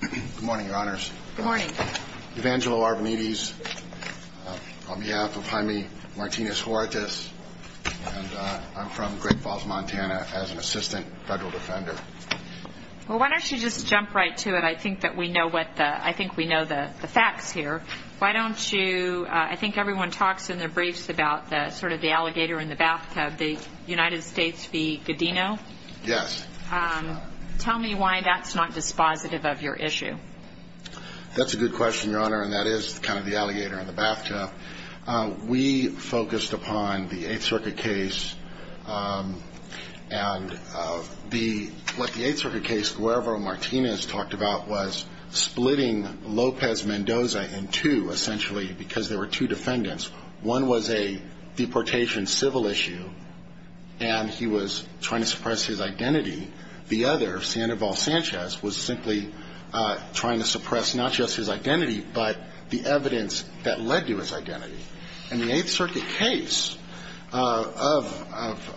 Good morning, your honors. Good morning. Evangelo Arvanites, on behalf of Jaime Martinez-Huertas, and I'm from Great Falls, Montana, as an assistant federal defender. Well, why don't you just jump right to it? I think that we know what the, I think we know the facts here. Why don't you, I think everyone talks in their briefs about the, sort of the alligator in the bathtub, the United States v. Godino. Yes. Tell me why that's not dispositive of your issue. That's a good question, your honor, and that is kind of the alligator in the bathtub. We focused upon the 8th Circuit case, and the, what the 8th Circuit case, Guevro-Martinez talked about was splitting Lopez Mendoza in two, essentially, because there were two defendants. One was a deportation civil issue, and he was trying to suppress his identity. The other, Sandoval Sanchez, was simply trying to suppress not just his identity, but the evidence that led to his identity. And the 8th Circuit case of, of, of,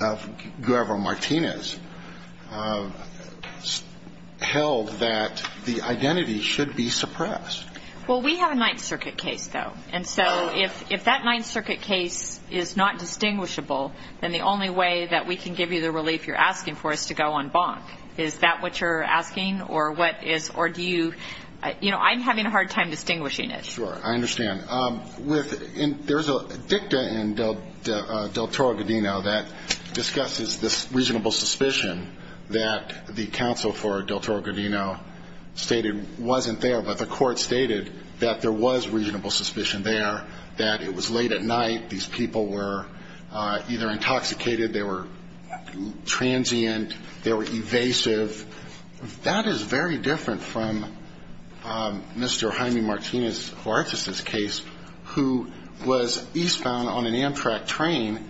of Guevro-Martinez held that the identity should be suppressed. Well, we have a 9th Circuit case, though, and so if, if that 9th Circuit case is not distinguishable, then the only way that we can give you the relief you're asking for is to go on bonk. Is that what you're asking, or what is, or do you, you know, I'm having a hard time distinguishing it. Sure, I understand. With, and there's a dicta in del, del, del Toro-Godino that discusses this reasonable suspicion that the counsel for del Toro-Godino stated wasn't there, but the court stated that there was reasonable suspicion there, that it was late at night, these people were either intoxicated, they were transient, they were evasive. That is very different from Mr. Jaime Martinez-Lartes' case, who was eastbound on an Amtrak train,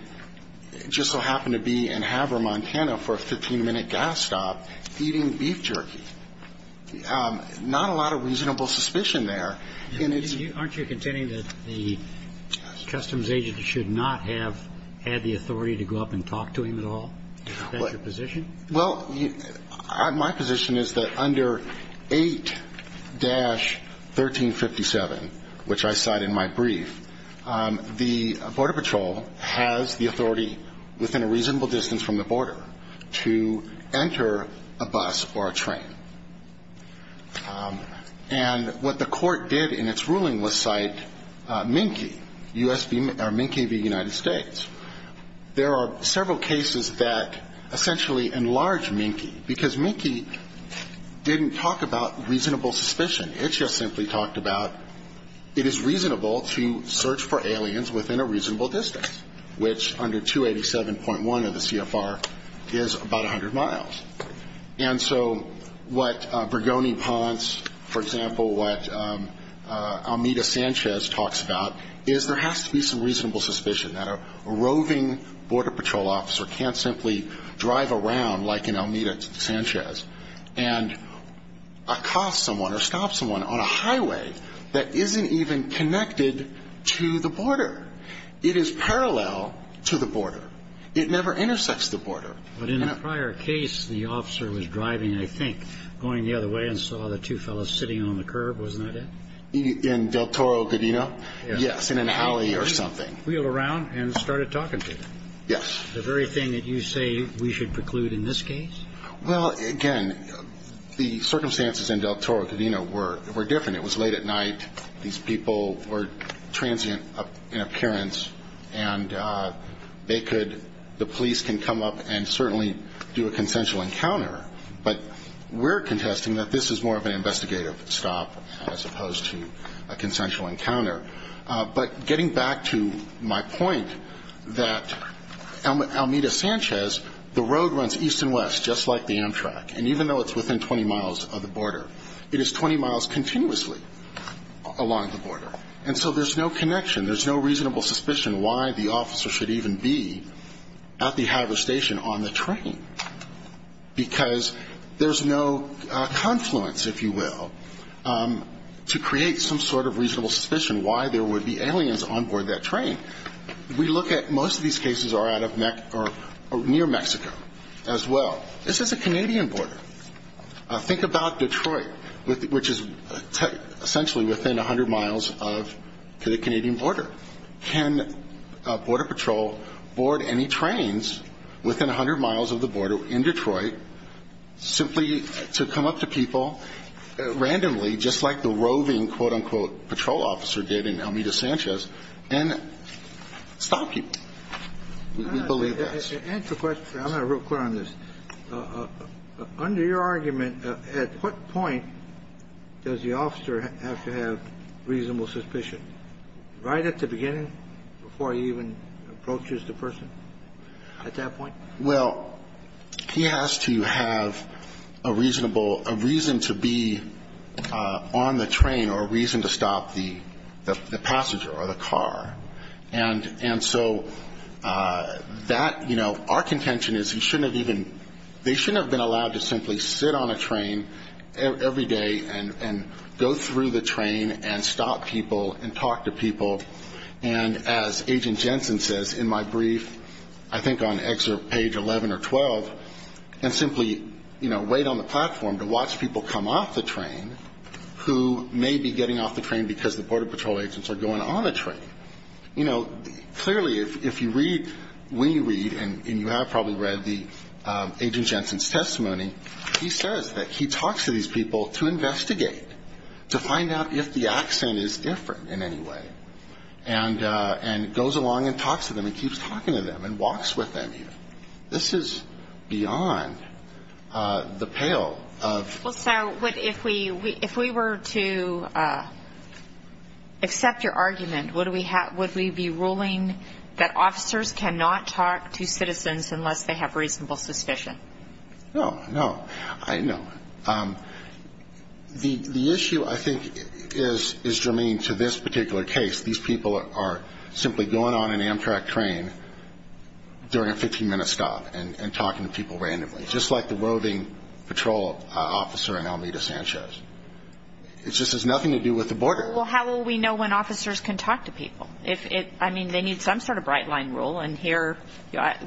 and just so happened to be in Havre, Montana, for a 15-minute gas stop, eating beef jerky. Not a lot of reasonable suspicion there, and it's… And you, aren't you contending that the customs agent should not have had the authority to go up and talk to him at all? Is that your position? Well, my position is that under 8-1357, which I cite in my brief, the Border Patrol has the authority within a reasonable distance from the border to enter a bus or a train. And what the court did in its ruling was cite Minky, U.S. v. or Minky v. United States. There are several cases that essentially enlarge Minky, because Minky didn't talk about reasonable suspicion. It just simply talked about it is reasonable to search for aliens within a reasonable distance, which under 287.1 of the CFR is about 100 miles. And so what Bregoni-Ponce, for example, what Almeda-Sanchez talks about is there has to be some reasonable suspicion that a roving Border Patrol officer can't simply drive around like an Almeda-Sanchez and accost someone or stop someone on a highway that isn't even connected to the border. It is parallel to the border. It never intersects the border. But in a prior case, the officer was driving, I think, going the other way and saw the two fellows sitting on the curb, wasn't that it? In Del Toro, Godino? Yes, in an alley or something. Wheeled around and started talking to them. Yes. The very thing that you say we should preclude in this case? Well, again, the circumstances in Del Toro, Godino were different. It was late at night. These people were transient in appearance and they could, the police can come up and certainly do a consensual encounter. But we're contesting that this is more of an investigative stop as opposed to a consensual encounter. But getting back to my point that Almeda-Sanchez, the road runs east and west just like the Amtrak. And even though it's within 20 miles of the border, it is 20 miles continuously along the border. And so there's no connection. There's no reasonable suspicion why the officer should even be at the Haver station on the train because there's no confluence, if you will, to create some sort of reasonable suspicion why there would be aliens on board that train. We look at most of these cases are out of or near Mexico as well. This is a Canadian border. Think about Detroit, which is essentially within 100 miles of the Canadian border. Can Border Patrol board any trains within 100 miles of the border in Detroit simply to come up to people randomly, just like the roving, quote, unquote, patrol officer did in Almeda-Sanchez, and stop people? We believe that. Answer the question. I'm going to be real clear on this. Under your argument, at what point does the officer have to have reasonable suspicion? Right at the beginning, before he even approaches the person at that point? Well, he has to have a reasonable, a reason to be on the train or a reason to stop the passenger or the car. And so that, you know, our contention is he shouldn't have even, they shouldn't have been allowed to simply sit on a train every day and go through the train and stop people and talk to people. And as Agent Jensen says in my brief, I think on excerpt page 11 or 12, and simply, you know, wait on the platform to watch people come off the train who may be getting off the train because the Border Patrol agents are going on a train. You know, clearly, if you read, when you read, and you have probably read the Agent Jensen's testimony, he says that he talks to these people to investigate, to find out if the accent is different in any way, and goes along and talks to them and keeps talking to them and walks with them. This is beyond the pale of... Should we be ruling that officers cannot talk to citizens unless they have reasonable suspicion? No, no, I know. The issue I think is germane to this particular case. These people are simply going on an Amtrak train during a 15 minute stop and talking to people randomly, just like the roving patrol officer in Almeida Sanchez. It just has nothing to do with the border. Well, how will we know when officers can talk to people? If it, I mean, they need some sort of bright line rule. And here,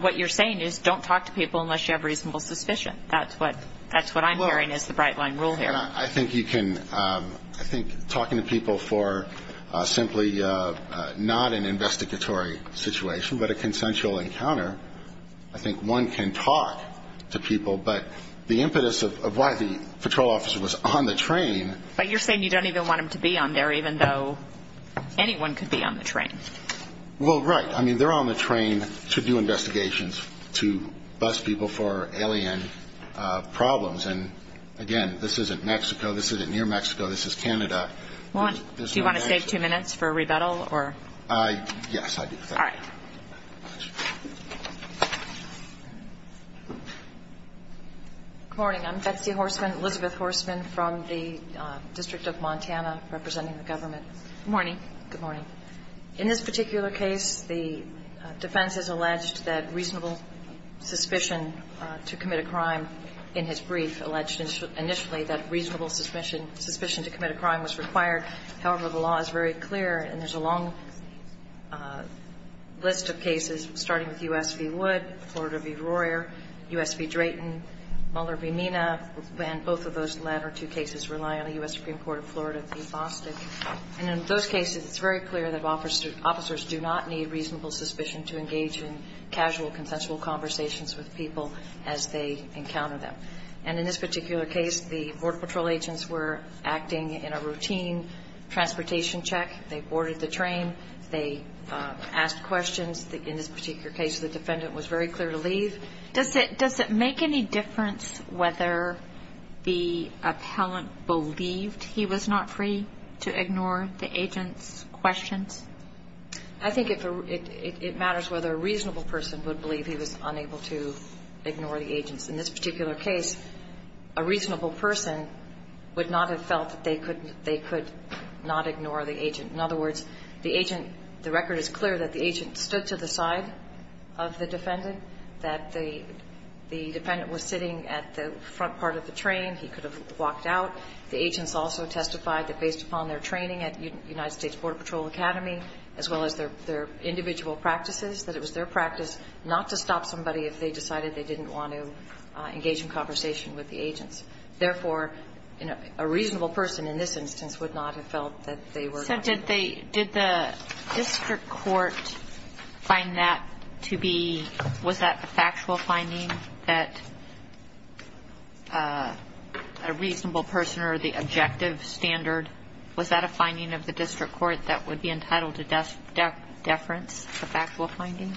what you're saying is don't talk to people unless you have reasonable suspicion. That's what, that's what I'm hearing is the bright line rule here. I think you can, I think talking to people for simply not an investigatory situation, but a consensual encounter. I think one can talk to people, but the impetus of why the patrol officer was on the train. But you're saying you don't even want him to be on there, even though anyone could be on the train. Well, right. I mean, they're on the train to do investigations, to bust people for alien problems. And again, this isn't Mexico. This isn't near Mexico. This is Canada. Well, do you want to save two minutes for a rebuttal or? Yes, I do. All right. Good morning. I'm Betsy Horstman, Elizabeth Horstman from the District of Montana, representing the government. Morning. Good morning. In this particular case, the defense has alleged that reasonable suspicion to commit a crime in his brief alleged initially that reasonable suspicion to commit a crime was required. However, the law is very clear, and there's a long list of cases, starting with U.S. v. Wood, Florida v. Royer, U.S. v. Drayton, Mueller v. Mina, and both of those latter two cases rely on the U.S. Supreme Court of Florida v. Bostick. And in those cases, it's very clear that officers do not need reasonable suspicion to engage in casual, consensual conversations with people as they encounter them. And in this particular case, the Border Patrol agents were acting in a routine transportation check. They boarded the train. They asked questions. In this particular case, the defendant was very clear to leave. Does it make any difference whether the appellant believed he was not free to ignore the agent's questions? I think it matters whether a reasonable person would believe he was unable to ignore the agents. In this particular case, a reasonable person would not have felt that they could not ignore the agent. In other words, the agent, the record is clear that the agent stood to the side of the defendant, that the defendant was sitting at the front part of the train. He could have walked out. The agents also testified that based upon their training at United States Border Patrol Academy, as well as their individual practices, that it was their practice not to stop somebody if they decided they didn't want to engage in conversation with the agents. Therefore, a reasonable person in this instance would not have felt that they were going to. So did the district court find that to be, was that a factual finding, that a reasonable person or the objective standard, was that a finding of the district court that would be entitled to deference, a factual finding?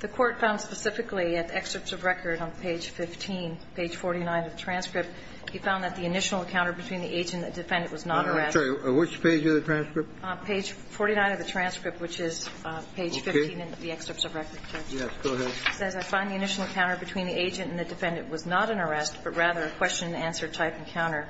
The court found specifically at excerpts of record on page 15, page 49 of the transcript, he found that the initial encounter between the agent and the defendant was not an arrest. I'm sorry, which page of the transcript? Page 49 of the transcript, which is page 15 in the excerpts of record. Yes, go ahead. It says, I find the initial encounter between the agent and the defendant was not an arrest, but rather a question-and-answer type encounter.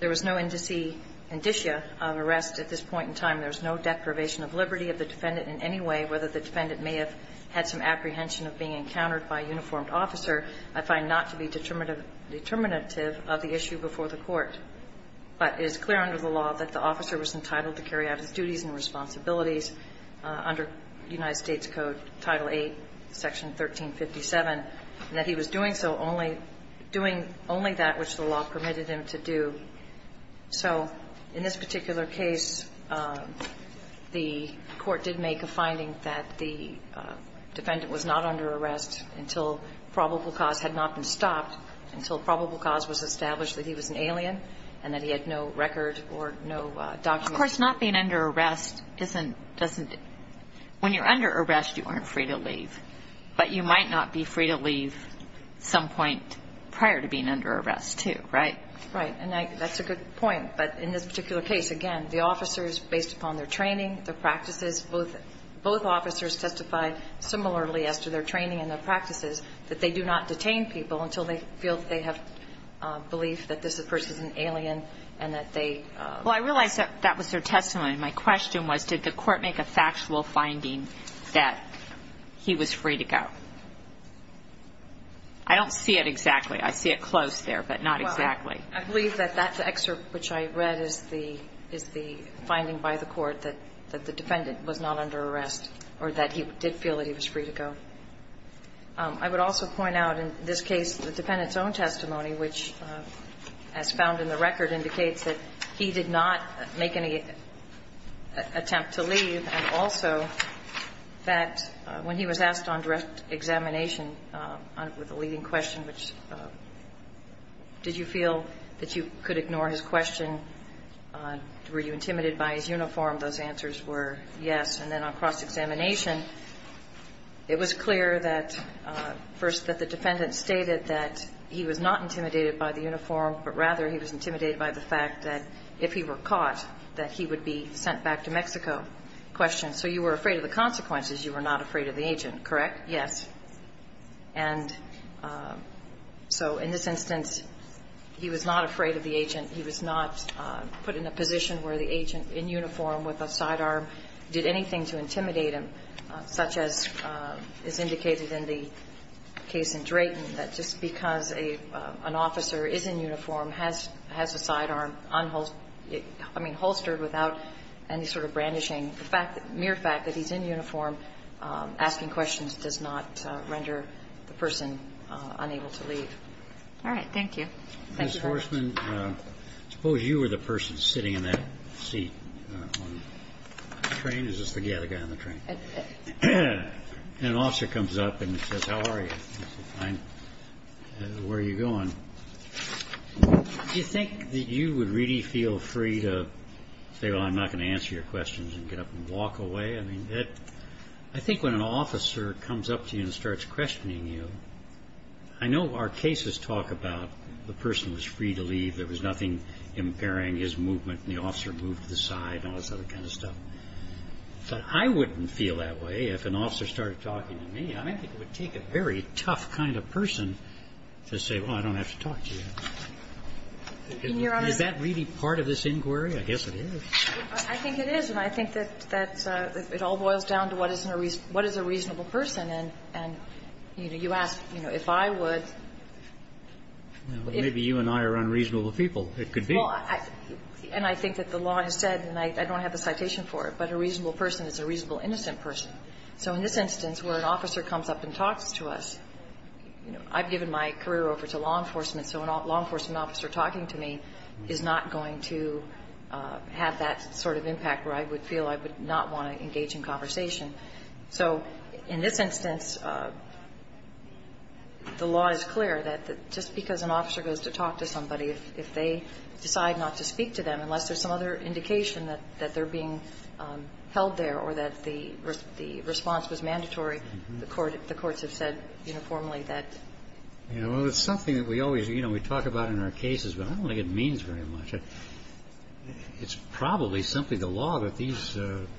There was no indicia of arrest at this point in time. There was no deprivation of liberty of the defendant in any way, whether the defendant may have had some apprehension of being encountered by a uniformed officer. I find not to be determinative of the issue before the court. But it is clear under the law that the officer was entitled to carry out his duties and responsibilities under United States Code, Title VIII, Section 1357, and that he was doing so only, doing only that which the law permitted him to do. So in this particular case, the court did make a finding that the defendant was not under arrest until probable cause had not been stopped, until probable cause was established that he was an alien and that he had no record or no document. Of course, not being under arrest isn't – doesn't – when you're under arrest, you aren't free to leave. But you might not be free to leave some point prior to being under arrest, too, right? Right. And I – that's a good point. But in this particular case, again, the officers, based upon their training, their practices, both – both officers testified similarly as to their training and their practices that they do not detain people until they feel that they have belief that this person is an alien and that they – Well, I realize that that was their testimony. My question was, did the court make a factual finding that he was free to go? I don't see it exactly. I see it close there, but not exactly. Well, I believe that that excerpt which I read is the – is the finding by the court that the defendant was not under arrest or that he did feel that he was free to go. I would also point out, in this case, the defendant's own testimony, which, as found in the record, indicates that he did not make any attempt to leave, and also that when he was asked on direct examination with a leading question, which – did you feel that you could ignore his question, were you intimidated by his uniform, those answers were yes. And then on cross-examination, it was clear that – first, that the defendant stated that he was not intimidated by the uniform, but rather he was intimidated by the fact that if he were caught, that he would be sent back to Mexico. Question, so you were afraid of the consequences. You were not afraid of the agent, correct? Yes. And so in this instance, he was not afraid of the agent. He was not put in a position where the agent in uniform with a sidearm did anything to him. And that's because an officer is in uniform, has a sidearm on – I mean, holstered without any sort of brandishing. The mere fact that he's in uniform asking questions does not render the person unable to leave. All right. Thank you. Thank you very much. Ms. Horstman, suppose you were the person sitting in that seat on the train. Is this the guy on the train? An officer comes up and says, how are you? And you say, fine, where are you going? Do you think that you would really feel free to say, well, I'm not going to answer your questions and get up and walk away? I mean, I think when an officer comes up to you and starts questioning you – I know our cases talk about the person was free to leave, there was nothing impairing his movement, and the officer moved to the side and all this other kind of stuff. But I wouldn't feel that way if an officer started talking to me. I think it would take a very tough kind of person to say, well, I don't have to talk to you. Is that really part of this inquiry? I guess it is. I think it is. And I think that it all boils down to what is a reasonable person. And you ask, if I would – Maybe you and I are unreasonable people. It could be. And I think that the law has said, and I don't have a citation for it, but a reasonable person is a reasonable innocent person. So in this instance, where an officer comes up and talks to us – I've given my career over to law enforcement, so a law enforcement officer talking to me is not going to have that sort of impact where I would feel I would not want to engage in conversation. So in this instance, the law is clear that just because an officer goes to talk to somebody, if they decide not to speak to them, unless there's some other indication that they're being held there or that the response was mandatory, the courts have said uniformly that – Well, it's something that we always – you know, we talk about in our cases, but I don't think it means very much. It's probably simply the law that these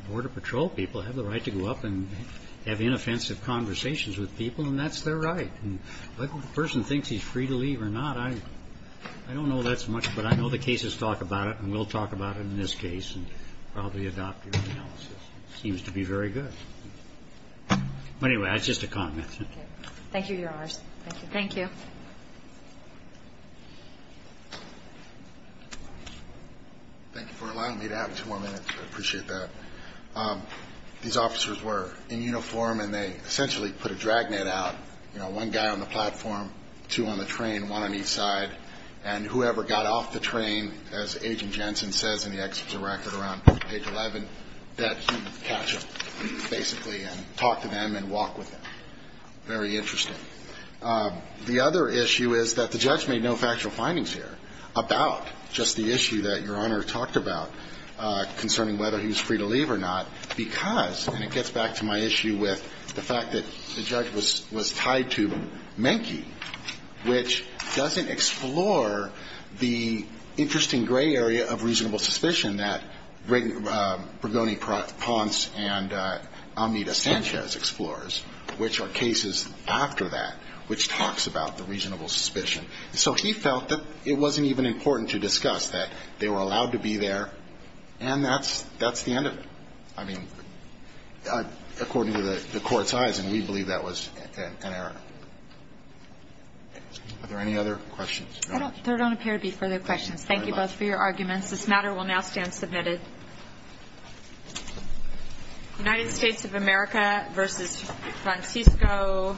Border Patrol people have the right to go up and have inoffensive conversations with people, and that's their right. Whether the person thinks he's free to leave or not, I don't know that so much, but I will talk about it in this case and probably adopt your analysis. It seems to be very good. But anyway, that's just a comment. Thank you, Your Honors. Thank you. Thank you. Thank you for allowing me to have two more minutes, I appreciate that. These officers were in uniform and they essentially put a dragnet out – you know, one guy on the platform, two on the train, one on each side, and whoever got off the train as Agent Jensen says in the excerpts of the record around page 11, that he would catch them, basically, and talk to them and walk with them. Very interesting. The other issue is that the judge made no factual findings here about just the issue that Your Honor talked about concerning whether he was free to leave or not, because – and it gets back to my issue with the fact that the judge was tied to Menke, which doesn't explore the interesting gray area of reasonable suspicion that Bregoni-Ponce and Amita Sanchez explores, which are cases after that which talks about the reasonable suspicion. So he felt that it wasn't even important to discuss that they were allowed to be there and that's the end of it. I mean, according to the court's eyes, and we believe that was an error. Are there any other questions? There don't appear to be further questions. Thank you both for your arguments. This matter will now stand submitted. United States of America v. Francisco.